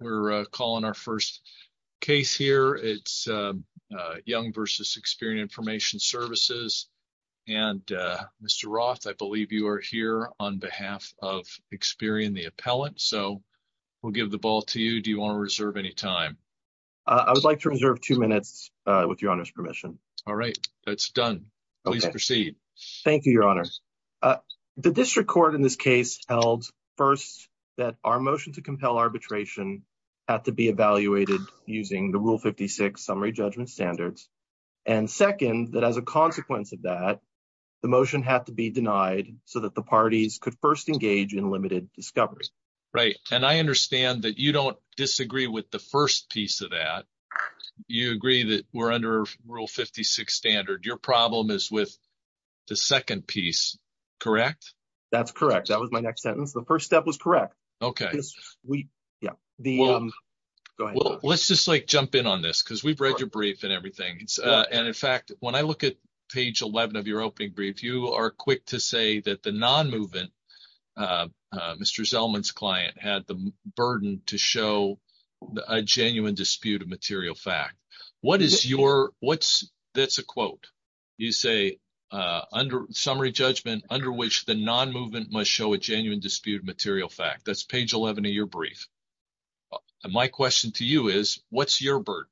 We're calling our first case here. It's Young v. Experian Information Services. And Mr. Roth, I believe you are here on behalf of Experian, the appellant. So we'll give the ball to you. Do you want to reserve any time? I would like to reserve two minutes with your Honor's permission. All right. That's done. Please proceed. Thank you, Your Honor. The district court in this case held, first, that our motion to compel arbitration had to be evaluated using the Rule 56 summary judgment standards. And, second, that as a consequence of that, the motion had to be denied so that the parties could first engage in limited discovery. Right. And I understand that you don't disagree with the first piece of that. You agree that we're under Rule 56 standard. Your problem is with the second piece, correct? That's correct. That was my next sentence. The first step was correct. Okay. Yeah. Well, let's just, like, jump in on this because we've read your brief and everything. And, in fact, when I look at page 11 of your opening brief, you are quick to say that the non-movement, Mr. Zellman's client, had the burden to show a genuine dispute of material fact. What is your – that's a quote. You say summary judgment under which the non-movement must show a genuine dispute of material fact. That's page 11 of your brief. And my question to you is what's your burden?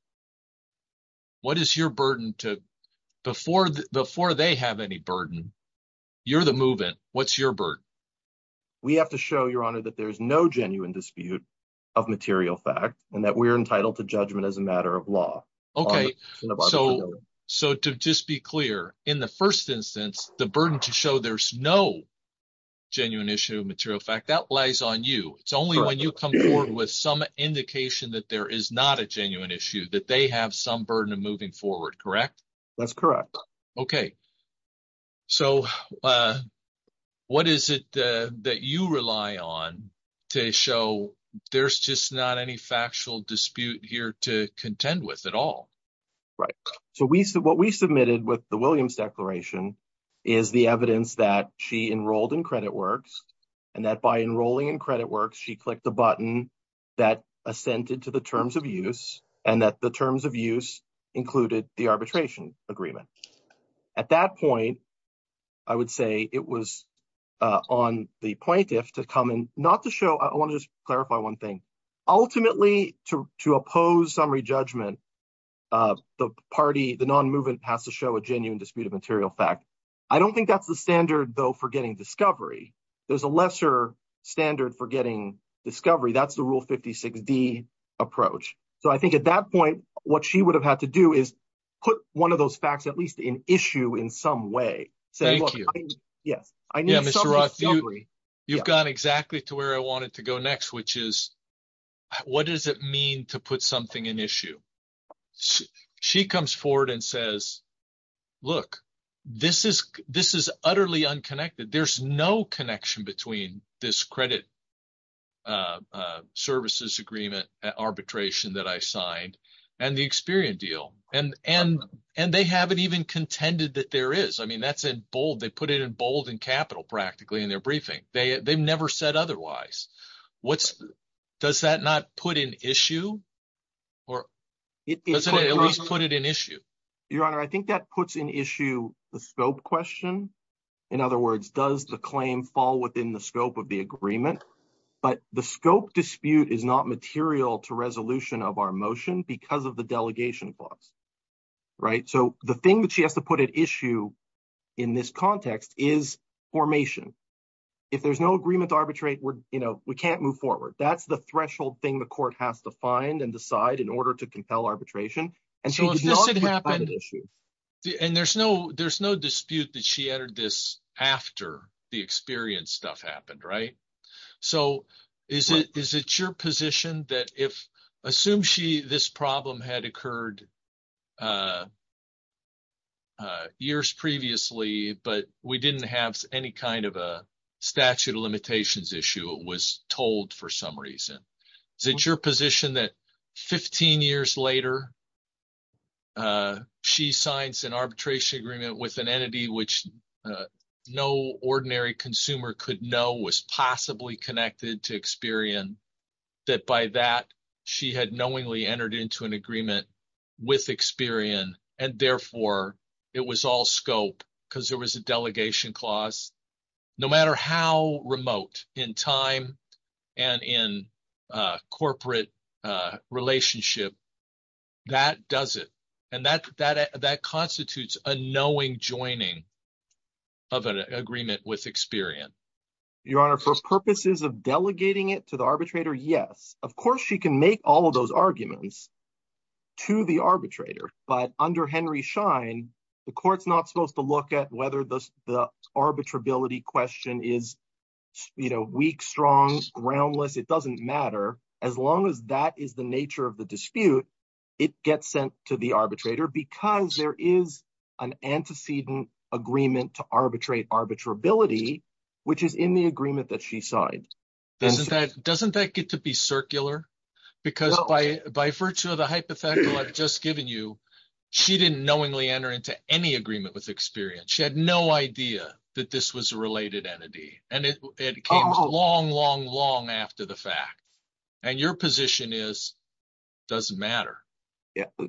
What is your burden to – before they have any burden, you're the movement. What's your burden? We have to show, Your Honor, that there's no genuine dispute of material fact and that we're entitled to judgment as a matter of law. Okay. So to just be clear, in the first instance, the burden to show there's no genuine issue of material fact, that lies on you. It's only when you come forward with some indication that there is not a genuine issue that they have some burden of moving forward, correct? That's correct. Okay. So what is it that you rely on to show there's just not any factual dispute here to contend with at all? Right. So what we submitted with the Williams Declaration is the evidence that she enrolled in CreditWorks and that by enrolling in CreditWorks, she clicked the button that assented to the terms of use and that the terms of use included the arbitration agreement. At that point, I would say it was on the plaintiff to come and not to show – I want to just clarify one thing. Ultimately, to oppose summary judgment, the party, the non-movement has to show a genuine dispute of material fact. I don't think that's the standard, though, for getting discovery. There's a lesser standard for getting discovery. That's the Rule 56D approach. So I think at that point, what she would have had to do is put one of those facts at least in issue in some way. Thank you. Yes. Yeah, Mr. Roth, you've gone exactly to where I wanted to go next, which is what does it mean to put something in issue? She comes forward and says, look, this is utterly unconnected. There's no connection between this credit services agreement arbitration that I signed and the Experian deal. And they haven't even contended that there is. I mean, that's in bold. They put it in bold in capital practically in their briefing. They've never said otherwise. Does that not put in issue? Or does it at least put it in issue? Your Honor, I think that puts in issue the scope question. In other words, does the claim fall within the scope of the agreement? But the scope dispute is not material to resolution of our motion because of the delegation clause. Right. So the thing that she has to put at issue in this context is formation. If there's no agreement to arbitrate, we can't move forward. That's the threshold thing the court has to find and decide in order to compel arbitration. And she did not put it in issue. And there's no dispute that she entered this after the Experian stuff happened. Right. statute of limitations issue was told for some reason. Is it your position that 15 years later, she signs an arbitration agreement with an entity which no ordinary consumer could know was possibly connected to Experian, that by that she had knowingly entered into an agreement with Experian, and therefore it was all scope because there was a delegation clause. No matter how remote in time and in corporate relationship, that does it. And that constitutes a knowing joining of an agreement with Experian. Your Honor, for purposes of delegating it to the arbitrator, yes. Of course she can make all of those arguments to the arbitrator. But under Henry Schein, the court's not supposed to look at whether the arbitrability question is weak, strong, groundless. It doesn't matter as long as that is the nature of the dispute. It gets sent to the arbitrator because there is an antecedent agreement to arbitrate arbitrability, which is in the agreement that she signed. Doesn't that get to be circular? Because by virtue of the hypothetical I've just given you, she didn't knowingly enter into any agreement with Experian. She had no idea that this was a related entity, and it came long, long, long after the fact. And your position is it doesn't matter.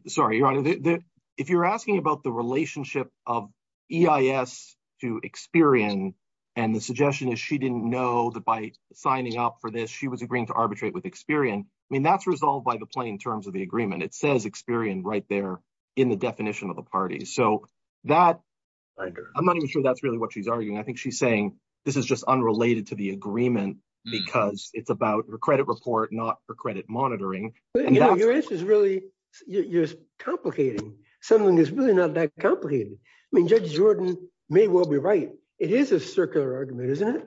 Sorry, Your Honor. If you're asking about the relationship of EIS to Experian, and the suggestion is she didn't know that by signing up for this, she was agreeing to arbitrate with Experian. I mean, that's resolved by the plain terms of the agreement. It says Experian right there in the definition of the party. So that I'm not even sure that's really what she's arguing. I think she's saying this is just unrelated to the agreement because it's about her credit report, not her credit monitoring. Your answer is really, you're complicating something that's really not that complicated. I mean, Judge Jordan may well be right. It is a circular argument, isn't it?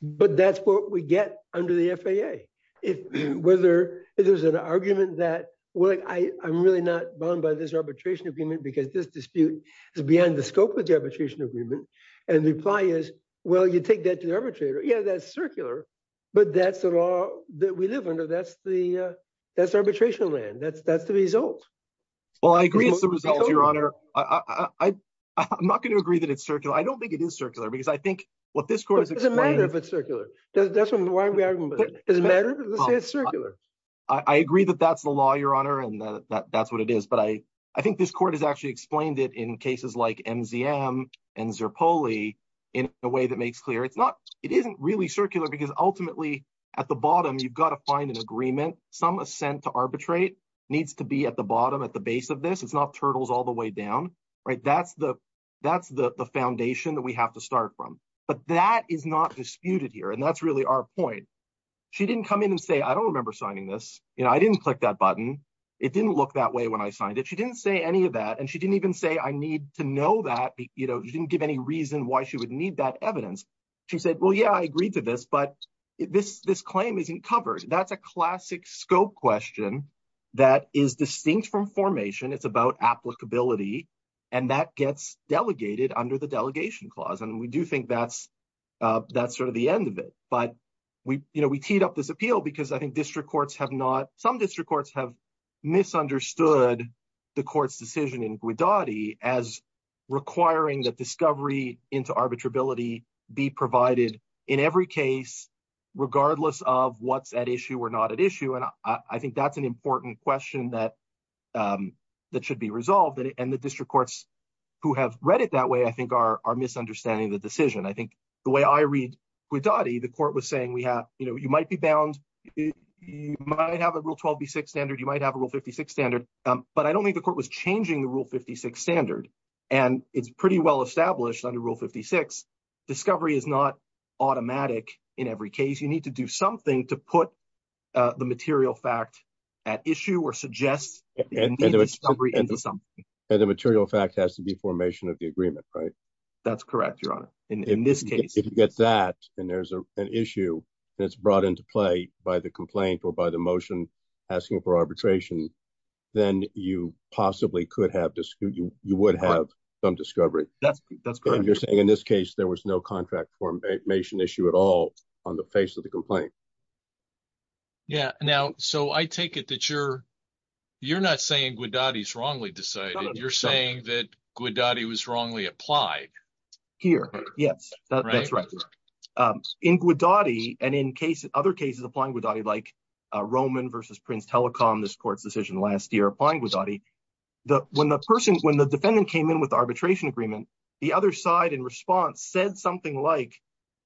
But that's what we get under the FAA. If there's an argument that, well, I'm really not bound by this arbitration agreement because this dispute is beyond the scope of the arbitration agreement. And the reply is, well, you take that to the arbitrator. Yeah, that's circular. But that's the law that we live under. That's the arbitration land. That's the result. Well, I agree it's the result, Your Honor. I'm not going to agree that it's circular. I don't think it is circular because I think what this court has explained. It doesn't matter if it's circular. It doesn't matter if it's circular. I agree that that's the law, Your Honor, and that's what it is. But I think this court has actually explained it in cases like MZM and Zerpoli in a way that makes clear it's not. It isn't really circular because ultimately at the bottom, you've got to find an agreement. Some assent to arbitrate needs to be at the bottom at the base of this. It's not turtles all the way down. Right. That's the that's the foundation that we have to start from. But that is not disputed here. And that's really our point. She didn't come in and say, I don't remember signing this. You know, I didn't click that button. It didn't look that way when I signed it. She didn't say any of that. And she didn't even say I need to know that. You know, you didn't give any reason why she would need that evidence. She said, well, yeah, I agreed to this. But this this claim isn't covered. That's a classic scope question that is distinct from formation. It's about applicability. And that gets delegated under the delegation clause. And we do think that's that's sort of the end of it. But we, you know, we teed up this appeal because I think district courts have not. Some district courts have misunderstood the court's decision in Guadadi as requiring that discovery into arbitrability be provided in every case, regardless of what's at issue or not at issue. And I think that's an important question that that should be resolved. And the district courts who have read it that way, I think, are misunderstanding the decision. I think the way I read Guadadi, the court was saying we have you might be bound. You might have a rule 12B6 standard. You might have a rule 56 standard. But I don't think the court was changing the rule 56 standard. And it's pretty well established under rule 56. Discovery is not automatic in every case. You need to do something to put the material fact at issue or suggest discovery into something. And the material fact has to be formation of the agreement, right? That's correct, Your Honor. In this case, if you get that and there's an issue that's brought into play by the complaint or by the motion asking for arbitration, then you possibly could have you would have some discovery. That's correct. You're saying in this case there was no contract formation issue at all on the face of the complaint. Yeah. Now, so I take it that you're you're not saying Guadadi is wrongly decided. You're saying that Guadadi was wrongly applied here. Yes, that's right. In Guadadi and in case other cases applying Guadadi like Roman versus Prince Telecom, this court's decision last year applying Guadadi. When the person when the defendant came in with arbitration agreement, the other side in response said something like,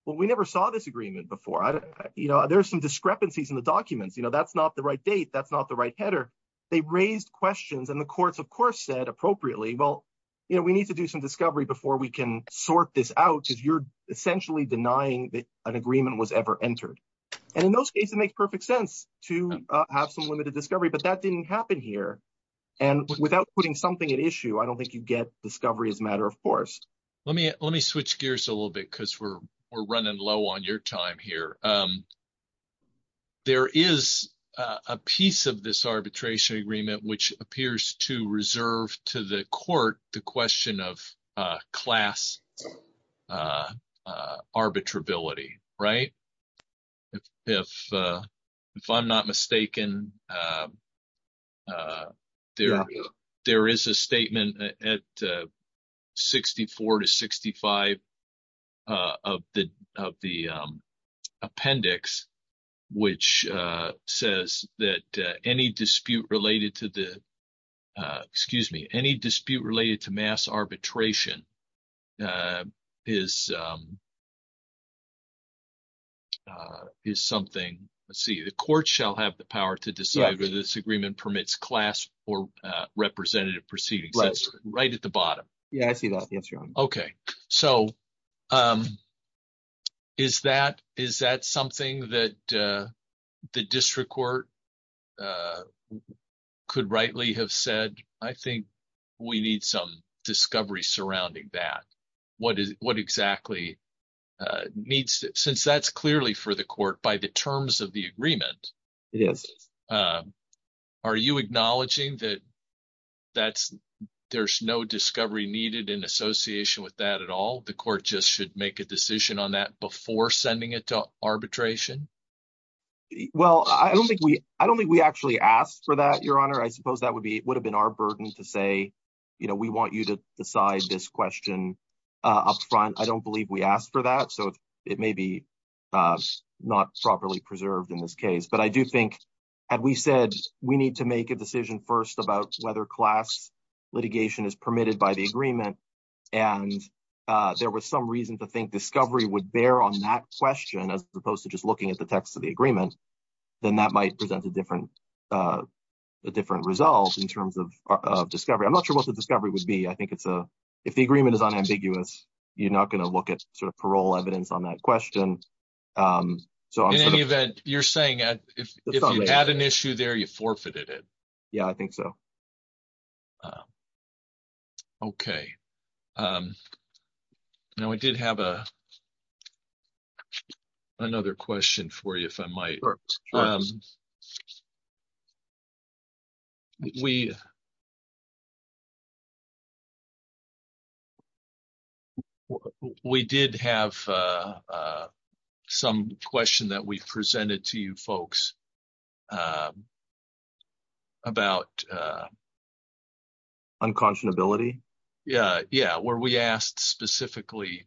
well, we never saw this agreement before. You know, there are some discrepancies in the documents. You know, that's not the right date. That's not the right header. They raised questions and the courts, of course, said appropriately, well, you know, we need to do some discovery before we can sort this out because you're essentially denying that an agreement was ever entered. And in those cases make perfect sense to have some limited discovery. But that didn't happen here. And without putting something at issue, I don't think you get discovery as a matter of course. Let me let me switch gears a little bit because we're we're running low on your time here. There is a piece of this arbitration agreement which appears to reserve to the court the question of class arbitrability, right? If if I'm not mistaken, there there is a statement at 64 to 65 of the of the appendix, which says that any dispute related to the excuse me, any dispute related to mass arbitration is. Is something I see the court shall have the power to decide whether this agreement permits class or representative proceedings. That's right at the bottom. Yeah, I see that. Yes. Okay. So is that is that something that the district court could rightly have said? I think we need some discovery surrounding that. What is what exactly needs since that's clearly for the court by the terms of the agreement? Yes. Are you acknowledging that that's there's no discovery needed in association with that at all? The court just should make a decision on that before sending it to arbitration. Well, I don't think we I don't think we actually asked for that, Your Honor. I suppose that would be would have been our burden to say, you know, we want you to decide this question up front. I don't believe we asked for that. So it may be not properly preserved in this case. But I do think we said we need to make a decision first about whether class litigation is permitted by the agreement. And there was some reason to think discovery would bear on that question as opposed to just looking at the text of the agreement. Then that might present a different a different result in terms of discovery. I'm not sure what the discovery would be. I think it's a if the agreement is unambiguous. You're not going to look at sort of parole evidence on that question. So in any event, you're saying if you had an issue there, you forfeited it. Yeah, I think so. Okay. Now, I did have a another question for you, if I might. We. We did have some question that we presented to you folks. About unconscionability. Yeah, yeah. Where we asked specifically,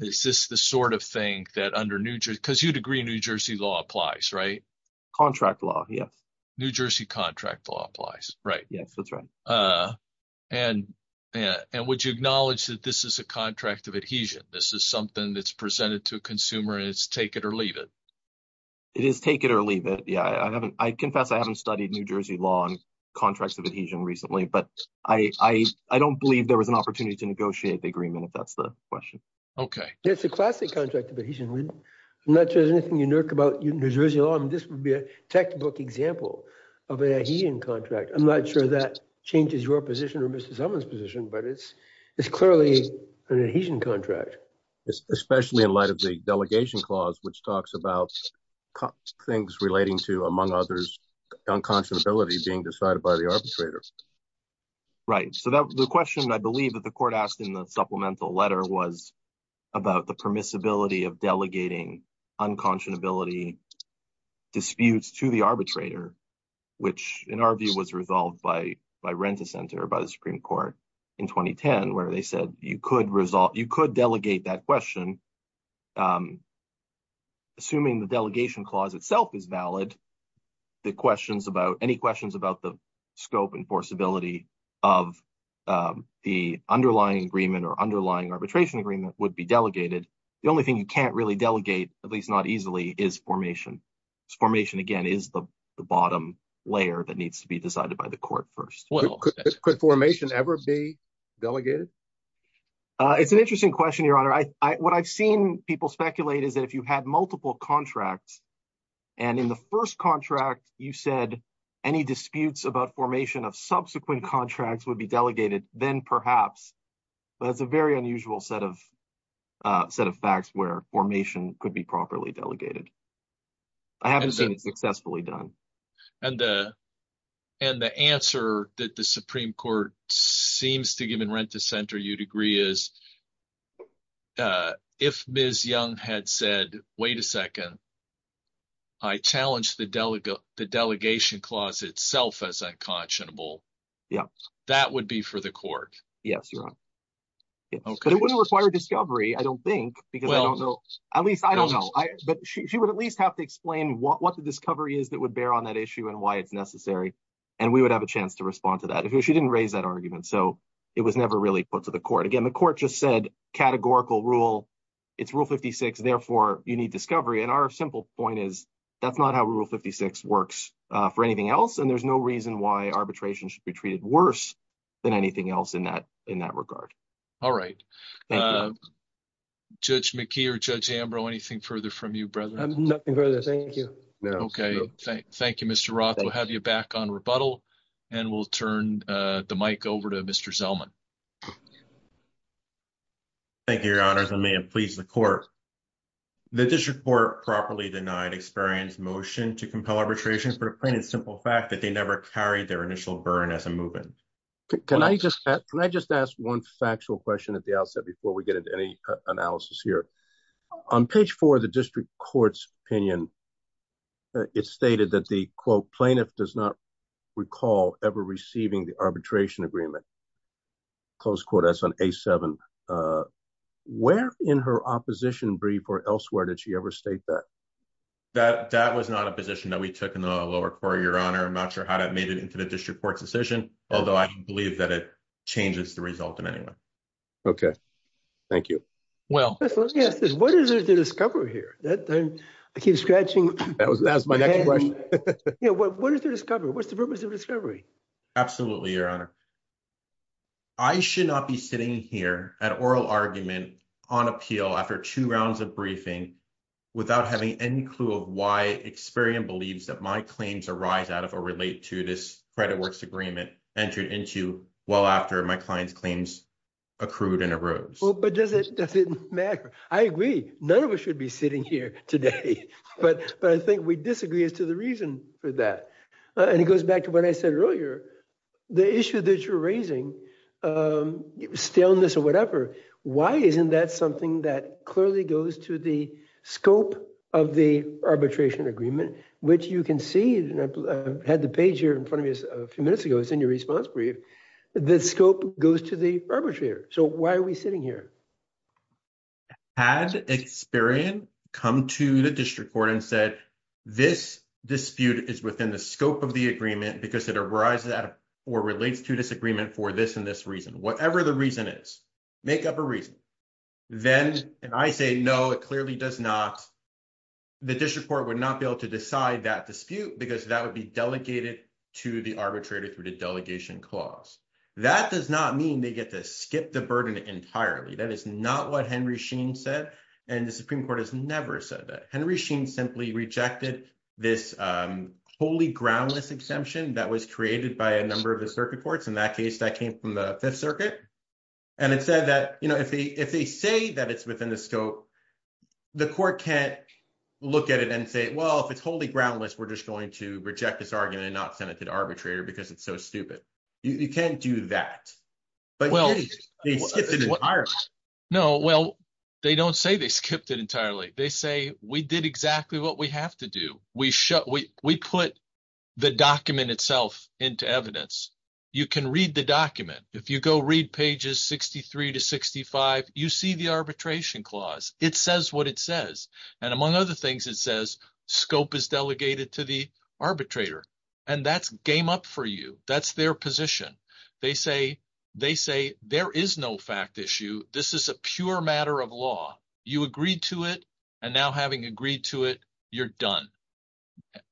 is this the sort of thing that under New Jersey, because you'd agree, New Jersey law applies, right? Contract law. Yes. New Jersey contract law applies. Right. Yes, that's right. And and would you acknowledge that this is a contract of adhesion? This is something that's presented to a consumer. It's take it or leave it. It is take it or leave it. Yeah, I haven't. I confess I haven't studied New Jersey law and contracts of adhesion recently. But I, I, I don't believe there was an opportunity to negotiate the agreement. If that's the question. Okay, it's a classic contract of adhesion. I'm not sure there's anything unique about New Jersey law. This would be a textbook example of an adhesion contract. I'm not sure that changes your position or Mr. someone's position, but it's it's clearly an adhesion contract. Especially in light of the delegation clause, which talks about things relating to, among others, unconscionability being decided by the arbitrator. Right. So the question I believe that the court asked in the supplemental letter was about the permissibility of delegating unconscionability. Disputes to the arbitrator, which, in our view, was resolved by by rent a center by the Supreme Court in 2010, where they said you could result, you could delegate that question. Assuming the delegation clause itself is valid. The questions about any questions about the scope and possibility of the underlying agreement or underlying arbitration agreement would be delegated. The only thing you can't really delegate, at least not easily is formation formation again is the bottom layer that needs to be decided by the court first. Well, could formation ever be delegated. It's an interesting question, Your Honor. I what I've seen people speculate is that if you had multiple contracts. And in the first contract, you said any disputes about formation of subsequent contracts would be delegated, then perhaps. But it's a very unusual set of set of facts where formation could be properly delegated. I haven't seen it successfully done. And the answer that the Supreme Court seems to give in rent to center you degree is. If Ms. Young had said, wait a second. I challenged the delegate the delegation clause itself as unconscionable. Yeah, that would be for the court. Yes, you're right. But it wouldn't require discovery. I don't think because I don't know. At least I don't know. But she would at least have to explain what the discovery is that would bear on that issue and why it's necessary. And we would have a chance to respond to that if she didn't raise that argument. So it was never really put to the court again. The court just said categorical rule. It's rule 56. Therefore, you need discovery. And our simple point is that's not how rule 56 works for anything else. And there's no reason why arbitration should be treated worse than anything else in that in that regard. All right. Judge McKee or Judge Ambrose, anything further from you, brother? Nothing further. Thank you. Okay. Thank you, Mr. Roth. We'll have you back on rebuttal and we'll turn the mic over to Mr. Zellman. Thank you, Your Honor. I may have pleased the court. The district court properly denied experience motion to compel arbitration for plain and simple fact that they never carried their initial burn as a movement. Can I just can I just ask one factual question at the outset before we get into any analysis here on page four of the district court's opinion? It's stated that the quote plaintiff does not recall ever receiving the arbitration agreement. Close quotas on a seven. Where in her opposition brief or elsewhere did she ever state that? That that was not a position that we took in the lower court, Your Honor. I'm not sure how that made it into the district court's decision, although I believe that it changes the result in any way. OK, thank you. Well, yes. What is the discovery here that I keep scratching? That was that's my question. What is the discovery? What's the purpose of discovery? Absolutely, Your Honor. I should not be sitting here at oral argument on appeal after two rounds of briefing without having any clue of why experience believes that my claims arise out of or relate to this credit works agreement entered into. Well, after my client's claims accrued in a row, but does it doesn't matter. I agree. None of us should be sitting here today. But I think we disagree as to the reason for that. And it goes back to what I said earlier, the issue that you're raising stillness or whatever. Why isn't that something that clearly goes to the scope of the arbitration agreement, which you can see had the page here in front of us a few minutes ago. The scope goes to the arbitrator. So why are we sitting here? Had experience come to the district court and said this dispute is within the scope of the agreement because it arises or relates to disagreement for this and this reason, whatever the reason is make up a reason. Then, and I say, no, it clearly does not. The district court would not be able to decide that dispute because that would be delegated to the arbitrator through the delegation clause. That does not mean they get to skip the burden entirely. That is not what Henry Sheen said. And the Supreme Court has never said that Henry Sheen simply rejected this holy groundless exemption that was created by a number of the circuit courts. In that case, that came from the 5th circuit. And it said that if they say that it's within the scope, the court can't look at it and say, well, if it's holy groundless, we're just going to reject this argument and not send it to the arbitrator because it's so stupid. You can't do that. No, well, they don't say they skipped it entirely. They say we did exactly what we have to do. We put the document itself into evidence. You can read the document. If you go read pages 63 to 65, you see the arbitration clause. It says what it says. And among other things, it says scope is delegated to the arbitrator. And that's game up for you. That's their position. They say there is no fact issue. This is a pure matter of law. You agreed to it, and now having agreed to it, you're done.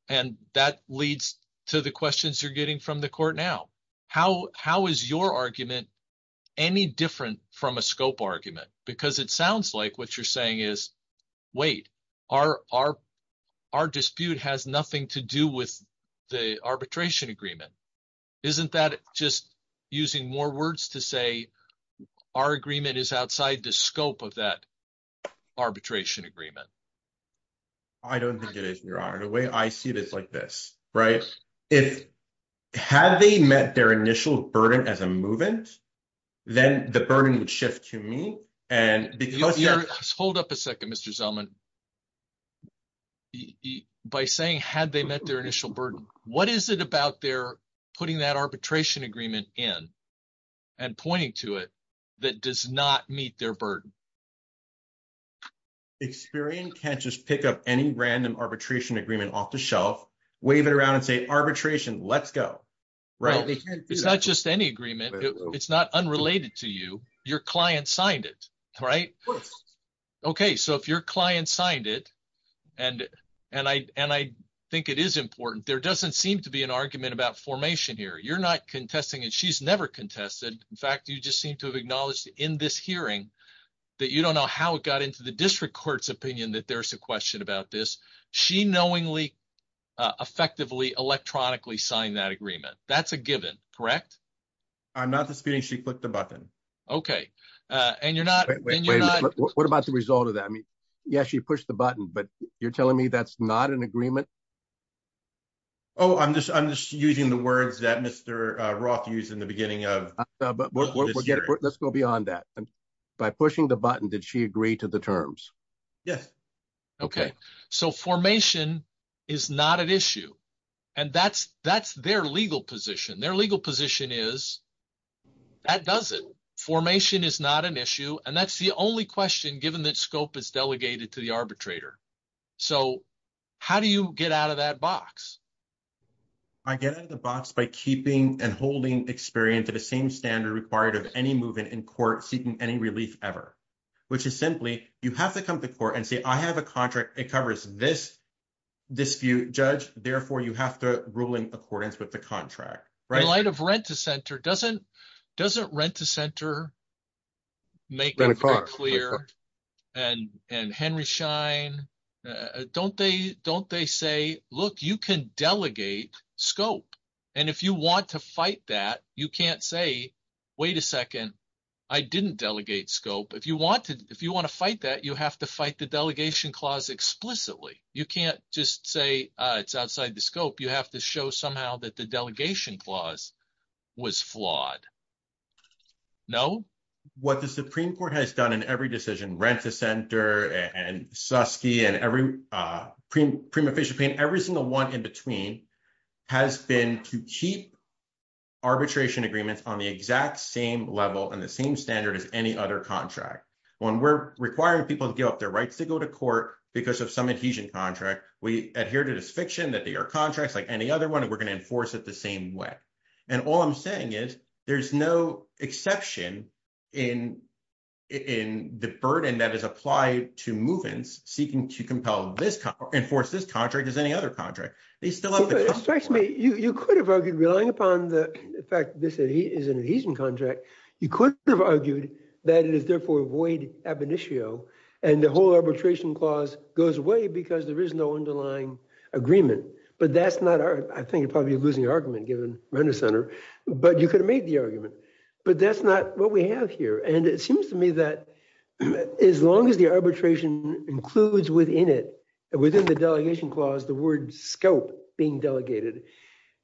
And that leads to the questions you're getting from the court now. How is your argument any different from a scope argument? Because it sounds like what you're saying is, wait, our dispute has nothing to do with the arbitration agreement. Isn't that just using more words to say our agreement is outside the scope of that arbitration agreement? I don't think it is, Your Honor. The way I see it is like this, right? Had they met their initial burden as a move-in, then the burden would shift to me. Hold up a second, Mr. Zellman. By saying had they met their initial burden, what is it about their putting that arbitration agreement in and pointing to it that does not meet their burden? Experian can't just pick up any random arbitration agreement off the shelf, wave it around, and say arbitration, let's go. It's not just any agreement. It's not unrelated to you. Your client signed it, right? Okay, so if your client signed it, and I think it is important, there doesn't seem to be an argument about formation here. You're not contesting it. She's never contested. In fact, you just seem to have acknowledged in this hearing that you don't know how it got into the district court's opinion that there's a question about this. She knowingly, effectively, electronically signed that agreement. That's a given, correct? I'm not disputing she clicked the button. Okay, and you're not... What about the result of that? I mean, yes, she pushed the button, but you're telling me that's not an agreement? Oh, I'm just using the words that Mr. Roth used in the beginning of this hearing. Let's go beyond that. By pushing the button, did she agree to the terms? Yes. Okay, so formation is not an issue, and that's their legal position. Their legal position is that doesn't. Formation is not an issue, and that's the only question given that scope is delegated to the arbitrator. So how do you get out of that box? I get out of the box by keeping and holding experience at the same standard required of any movement in court seeking any relief ever, which is simply you have to come to court and say, I have a contract. It covers this dispute, judge. Therefore, you have to rule in accordance with the contract. In light of Rent-to-Center, doesn't Rent-to-Center make clear and Henry Schein, don't they say, look, you can delegate scope. And if you want to fight that, you can't say, wait a second, I didn't delegate scope. If you want to fight that, you have to fight the delegation clause explicitly. You can't just say it's outside the scope. You have to show somehow that the delegation clause was flawed. No. What the Supreme Court has done in every decision, Rent-to-Center, and Suskie, and every prima facie payment, every single one in between has been to keep arbitration agreements on the exact same level and the same standard as any other contract. When we're requiring people to give up their rights to go to court because of some adhesion contract, we adhere to this fiction that they are contracts like any other one. And we're going to enforce it the same way. And all I'm saying is, there's no exception in the burden that is applied to move-ins seeking to enforce this contract as any other contract. You could have argued, relying upon the fact that this is an adhesion contract, you could have argued that it is therefore void ab initio, and the whole arbitration clause goes away because there is no underlying agreement. But that's not, I think you're probably losing argument given Rent-to-Center, but you could have made the argument. But that's not what we have here. And it seems to me that as long as the arbitration includes within it, within the delegation clause, the word scope being delegated,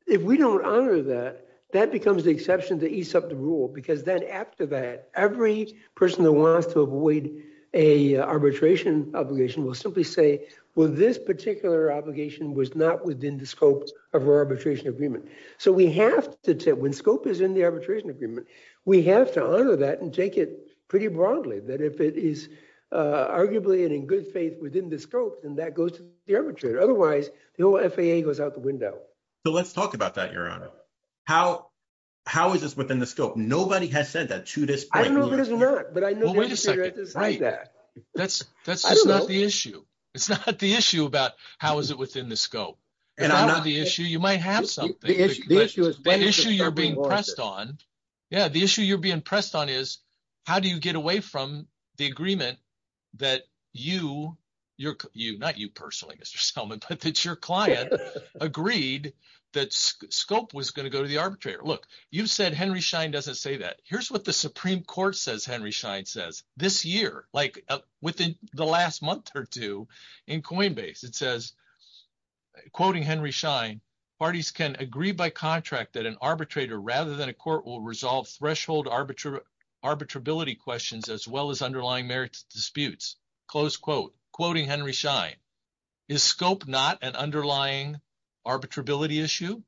if we don't honor that, that becomes the exception to ease up the rule. Because then after that, every person that wants to avoid an arbitration obligation will simply say, well, this particular obligation was not within the scope of our arbitration agreement. So we have to, when scope is in the arbitration agreement, we have to honor that and take it pretty broadly, that if it is arguably and in good faith within the scope, then that goes to the arbitrator. Otherwise, the whole FAA goes out the window. So let's talk about that, Your Honor. How is this within the scope? Nobody has said that to this point. I know there's not, but I know the industry has decided that. That's not the issue. It's not the issue about how is it within the scope. And I know the issue, you might have something. The issue you're being pressed on, yeah, the issue you're being pressed on is how do you get away from the agreement that you, not you personally, Mr. Selman, but that your client agreed that scope was going to go to the arbitrator. Look, you've said Henry Schein doesn't say that. Here's what the Supreme Court says Henry Schein says. This year, like within the last month or two in Coinbase, it says, quoting Henry Schein, parties can agree by contract that an arbitrator rather than a court will resolve threshold arbitrability questions as well as underlying merits disputes. Close quote. Quoting Henry Schein, is scope not an underlying arbitrability issue?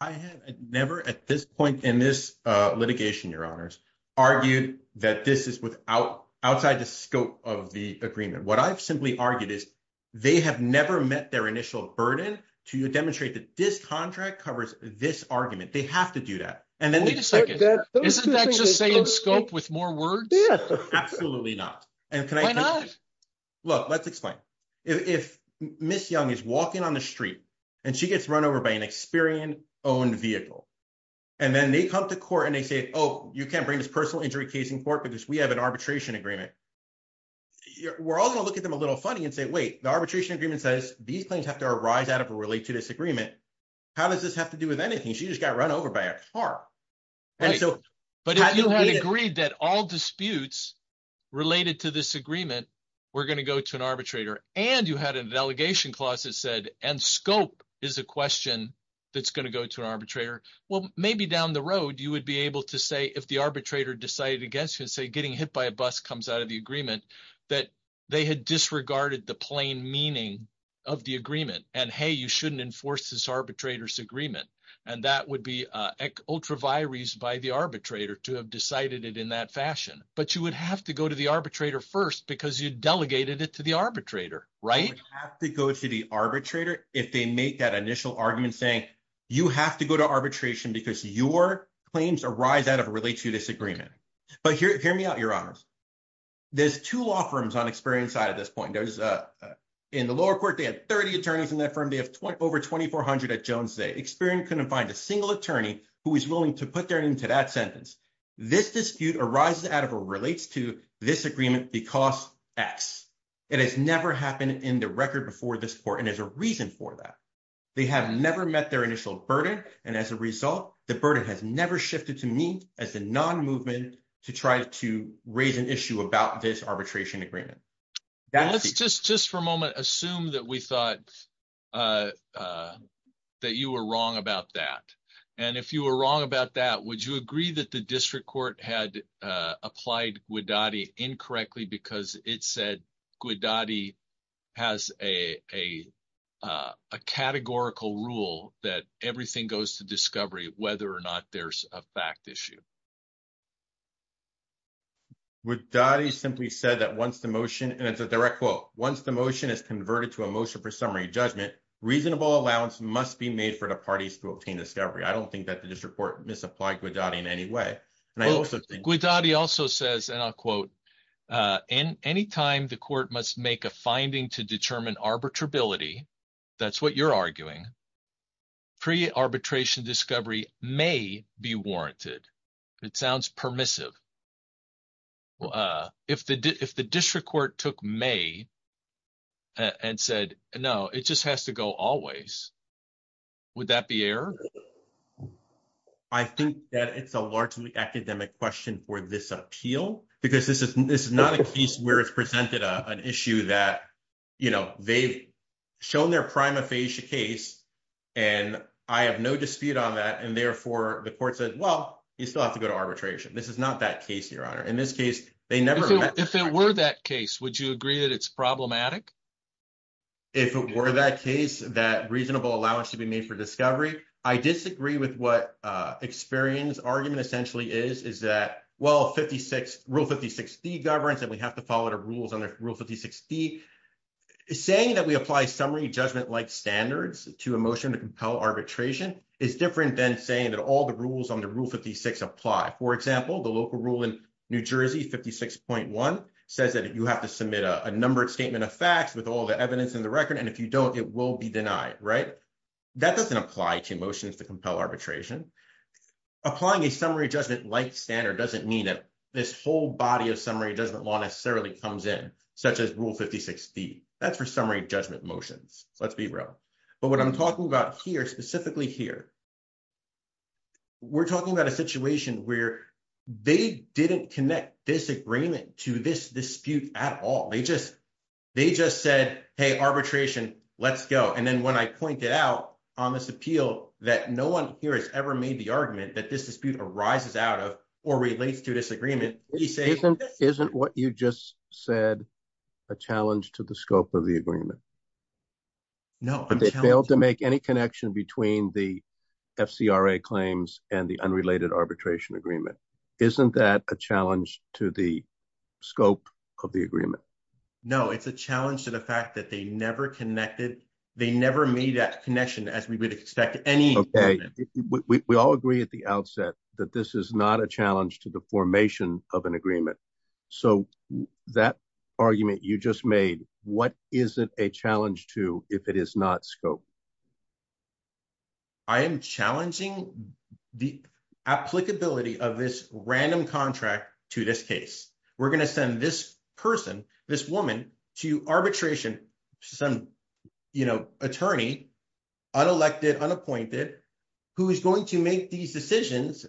I have never at this point in this litigation, your honors, argued that this is without outside the scope of the agreement. What I've simply argued is they have never met their initial burden to demonstrate that this contract covers this argument. Wait a second. Isn't that just saying scope with more words? Absolutely not. Why not? Look, let's explain. If Ms. Young is walking on the street, and she gets run over by an Experian-owned vehicle, and then they come to court and they say, oh, you can't bring this personal injury case in court because we have an arbitration agreement. We're all going to look at them a little funny and say, wait, the arbitration agreement says these claims have to arise out of a related disagreement. How does this have to do with anything? She just got run over by a car. But if you had agreed that all disputes related to this agreement were going to go to an arbitrator, and you had a delegation clause that said, and scope is a question that's going to go to an arbitrator, well, maybe down the road you would be able to say if the arbitrator decided against you and say getting hit by a bus comes out of the agreement, that they had disregarded the plain meaning of the agreement. And, hey, you shouldn't enforce this arbitrator's agreement. And that would be ultra vires by the arbitrator to have decided it in that fashion. But you would have to go to the arbitrator first because you delegated it to the arbitrator, right? They have to go to the arbitrator if they make that initial argument saying you have to go to arbitration because your claims arise out of a related disagreement. But here, hear me out. Your honors. There's 2 law firms on experience side at this point. There's in the lower court. They had 30 attorneys in that firm. They have over 2400 at Jones. They experienced couldn't find a single attorney who is willing to put their name to that sentence. This dispute arises out of a relates to this agreement because X. it has never happened in the record before this for, and as a reason for that, they have never met their initial burden. And as a result, the burden has never shifted to me as a non movement to try to raise an issue about this arbitration agreement. Let's just just for a moment, assume that we thought that you were wrong about that. And if you were wrong about that, would you agree that the district court had applied with daddy incorrectly? Because it said. Good daddy has a, a, a categorical rule that everything goes to discovery whether or not there's a fact issue. With daddy simply said that once the motion and it's a direct quote, once the motion is converted to a motion for summary judgment, reasonable allowance must be made for the parties to obtain discovery. I don't think that the district court misapplied with daddy in any way. With daddy also says, and I'll quote in any time the court must make a finding to determine arbitrability. That's what you're arguing. Pre arbitration discovery may be warranted. It sounds permissive. If the, if the district court took may. And said, no, it just has to go always. Would that be error? I think that it's a largely academic question for this appeal, because this is this is not a case where it's presented an issue that. You know, they've shown their prima facie case. And I have no dispute on that. And therefore, the court said, well, you still have to go to arbitration. This is not that case. Your honor. In this case, they never if it were that case, would you agree that it's problematic? If it were that case, that reasonable allowance to be made for discovery, I disagree with what experience argument essentially is, is that well, 56 rule 5060 governs that we have to follow the rules on the rule 5060. Saying that we apply summary judgment like standards to emotion to compel arbitration is different than saying that all the rules on the roof of the 6 apply. For example, the local rule in New Jersey 56.1 says that you have to submit a number of statement of facts with all the evidence in the record. And if you don't, it will be denied. Right? That doesn't apply to emotions to compel arbitration. Applying a summary judgment like standard doesn't mean that this whole body of summary judgment law necessarily comes in, such as rule 5060. That's for summary judgment motions. Let's be real. But what I'm talking about here specifically here. We're talking about a situation where they didn't connect this agreement to this dispute at all. They just. They just said, hey, arbitration, let's go. And then when I point it out on this appeal that no 1 here has ever made the argument that this dispute arises out of, or relates to disagreement, isn't isn't what you just said. A challenge to the scope of the agreement. No, but they failed to make any connection between the. Fcra claims and the unrelated arbitration agreement. Isn't that a challenge to the scope of the agreement? No, it's a challenge to the fact that they never connected. They never made that connection as we would expect any. Okay. We all agree at the outset that this is not a challenge to the formation of an agreement. So, that argument you just made, what is it a challenge to if it is not scope? I am challenging the applicability of this random contract to this case. We're going to send this person, this woman to arbitration. You know, attorney. Unelected unappointed who is going to make these decisions.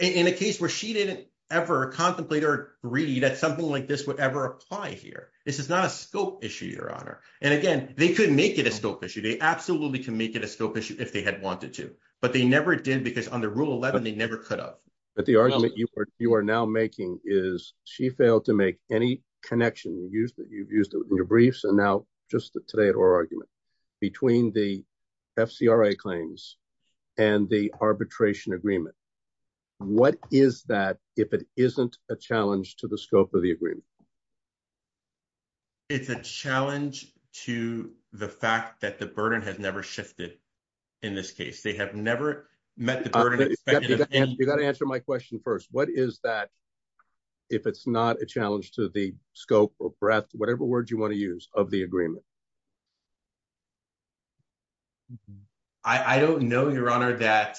In a case where she didn't ever contemplate or read that something like this would ever apply here. This is not a scope issue your honor. And again, they couldn't make it a scope issue. They absolutely can make it a scope issue if they had wanted to, but they never did because on the rule 11, they never could have. But the argument you are you are now making is she failed to make any connection that you've used in your briefs and now just today or argument. Between the claims and the arbitration agreement. What is that if it isn't a challenge to the scope of the agreement? It's a challenge to the fact that the burden has never shifted. In this case, they have never met the burden. You got to answer my question. 1st, what is that? If it's not a challenge to the scope of breath, whatever word you want to use of the agreement. I don't know your honor that.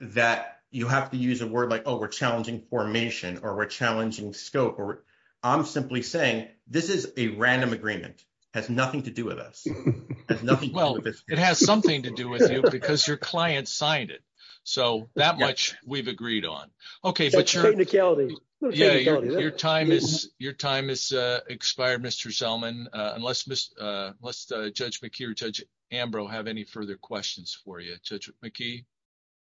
That you have to use a word like, oh, we're challenging formation or we're challenging scope or I'm simply saying this is a random agreement. Well, it has something to do with you because your client signed it. So that much we've agreed on. Okay. But you're in the county. Yeah, your time is your time is expired. Mr. Zellman, unless unless Judge McKeon, judge Ambrose have any further questions for you.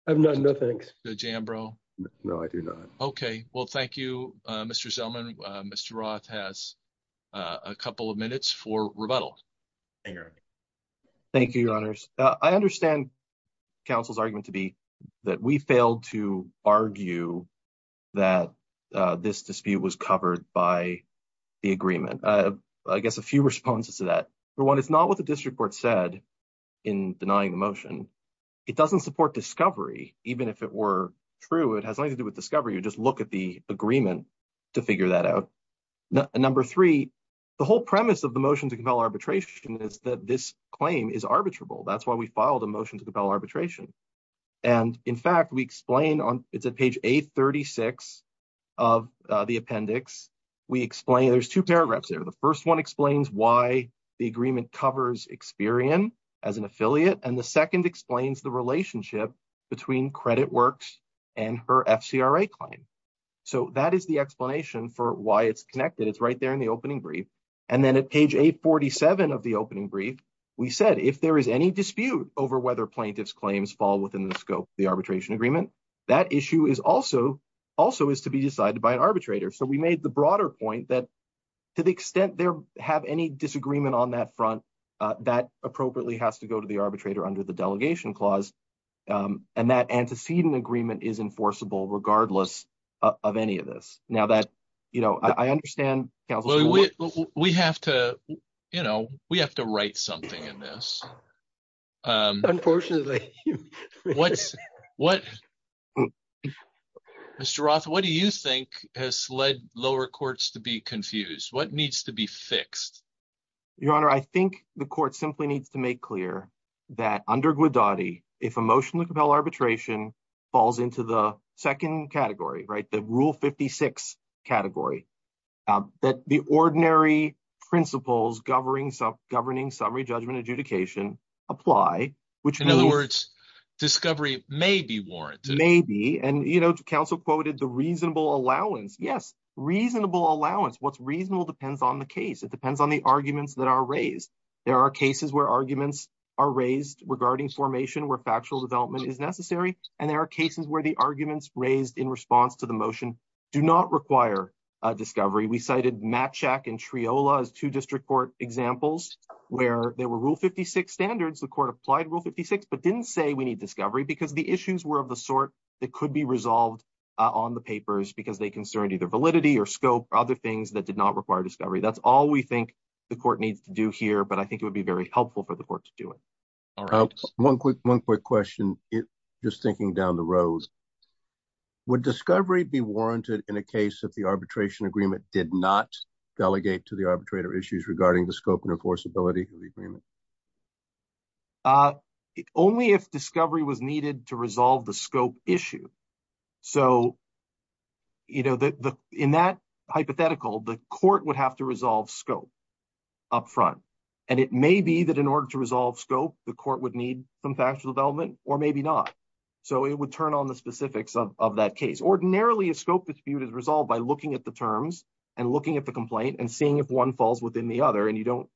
No, no, thanks. No, I do not. Okay. Well, thank you. Mr. Zellman. Mr. Roth has. A couple of minutes for rebuttal. Thank you, your honors. I understand. Council's argument to be that we failed to argue. That this dispute was covered by. The agreement, I guess a few responses to that. For 1, it's not what the district court said in denying the motion. It doesn't support discovery, even if it were true. It has nothing to do with discovery. You just look at the agreement. To figure that out. Number 3, the whole premise of the motion to compel arbitration is that this claim is arbitrable. That's why we filed a motion to compel arbitration. And in fact, we explain on it's a page 836. Of the appendix, we explain there's 2 paragraphs there. The 1st, 1 explains why the agreement covers experience as an affiliate and the 2nd explains the relationship. Between credit works and her claim. So, that is the explanation for why it's connected. It's right there in the opening brief. And then at page 847 of the opening brief. We said, if there is any dispute over whether plaintiffs claims fall within the scope of the arbitration agreement, that issue is also. Also is to be decided by an arbitrator. So we made the broader point that. To the extent there have any disagreement on that front. Uh, that appropriately has to go to the arbitrator under the delegation clause. Um, and that antecedent agreement is enforceable regardless. Of any of this now that, you know, I understand. We have to, you know, we have to write something in this. Unfortunately, what's what? Mr. Roth, what do you think has led lower courts to be confused? What needs to be fixed? Your honor, I think the court simply needs to make clear. That under good daddy, if emotionally compel arbitration. Falls into the 2nd category, right? The rule 56 category. That the ordinary principles governing governing summary judgment adjudication. Apply, which, in other words, discovery may be warranted. Maybe. And, you know, counsel quoted the reasonable allowance. Yes. Reasonable allowance. What's reasonable depends on the case. It depends on the arguments that are raised. There are cases where arguments are raised regarding formation where factual development is necessary. And there are cases where the arguments raised in response to the motion. Do not require a discovery. We cited match check and triola as 2 district court examples where there were rule 56 standards. The court applied rule 56, but didn't say we need discovery because the issues were of the sort. That could be resolved on the papers because they concerned either validity or scope or other things that did not require discovery. That's all we think. The court needs to do here, but I think it would be very helpful for the court to do it. 1 quick 1 quick question, just thinking down the road. Would discovery be warranted in a case of the arbitration agreement did not delegate to the arbitrator issues regarding the scope and enforceability of the agreement. Only if discovery was needed to resolve the scope issue. So, you know, in that hypothetical, the court would have to resolve scope. Upfront, and it may be that in order to resolve scope, the court would need some factual development, or maybe not. So, it would turn on the specifics of that case. Ordinarily, a scope dispute is resolved by looking at the terms and looking at the complaint and seeing if 1 falls within the other. And you don't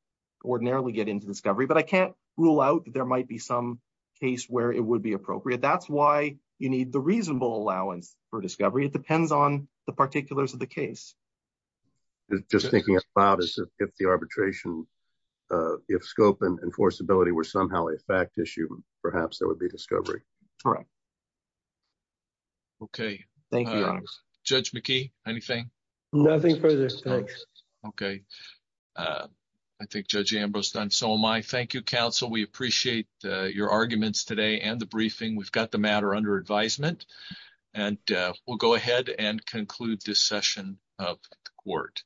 ordinarily get into discovery, but I can't rule out. There might be some case where it would be appropriate. That's why you need the reasonable allowance for discovery. It depends on the particulars of the case. Just thinking about is if the arbitration. If scope and enforceability were somehow a fact issue, perhaps there would be discovery. Okay, thank you judge Mickey anything. Nothing further. Thanks. Okay. I think judge Ambrose done so my thank you counsel. We appreciate your arguments today and the briefing. We've got the matter under advisement and we'll go ahead and conclude this session of court.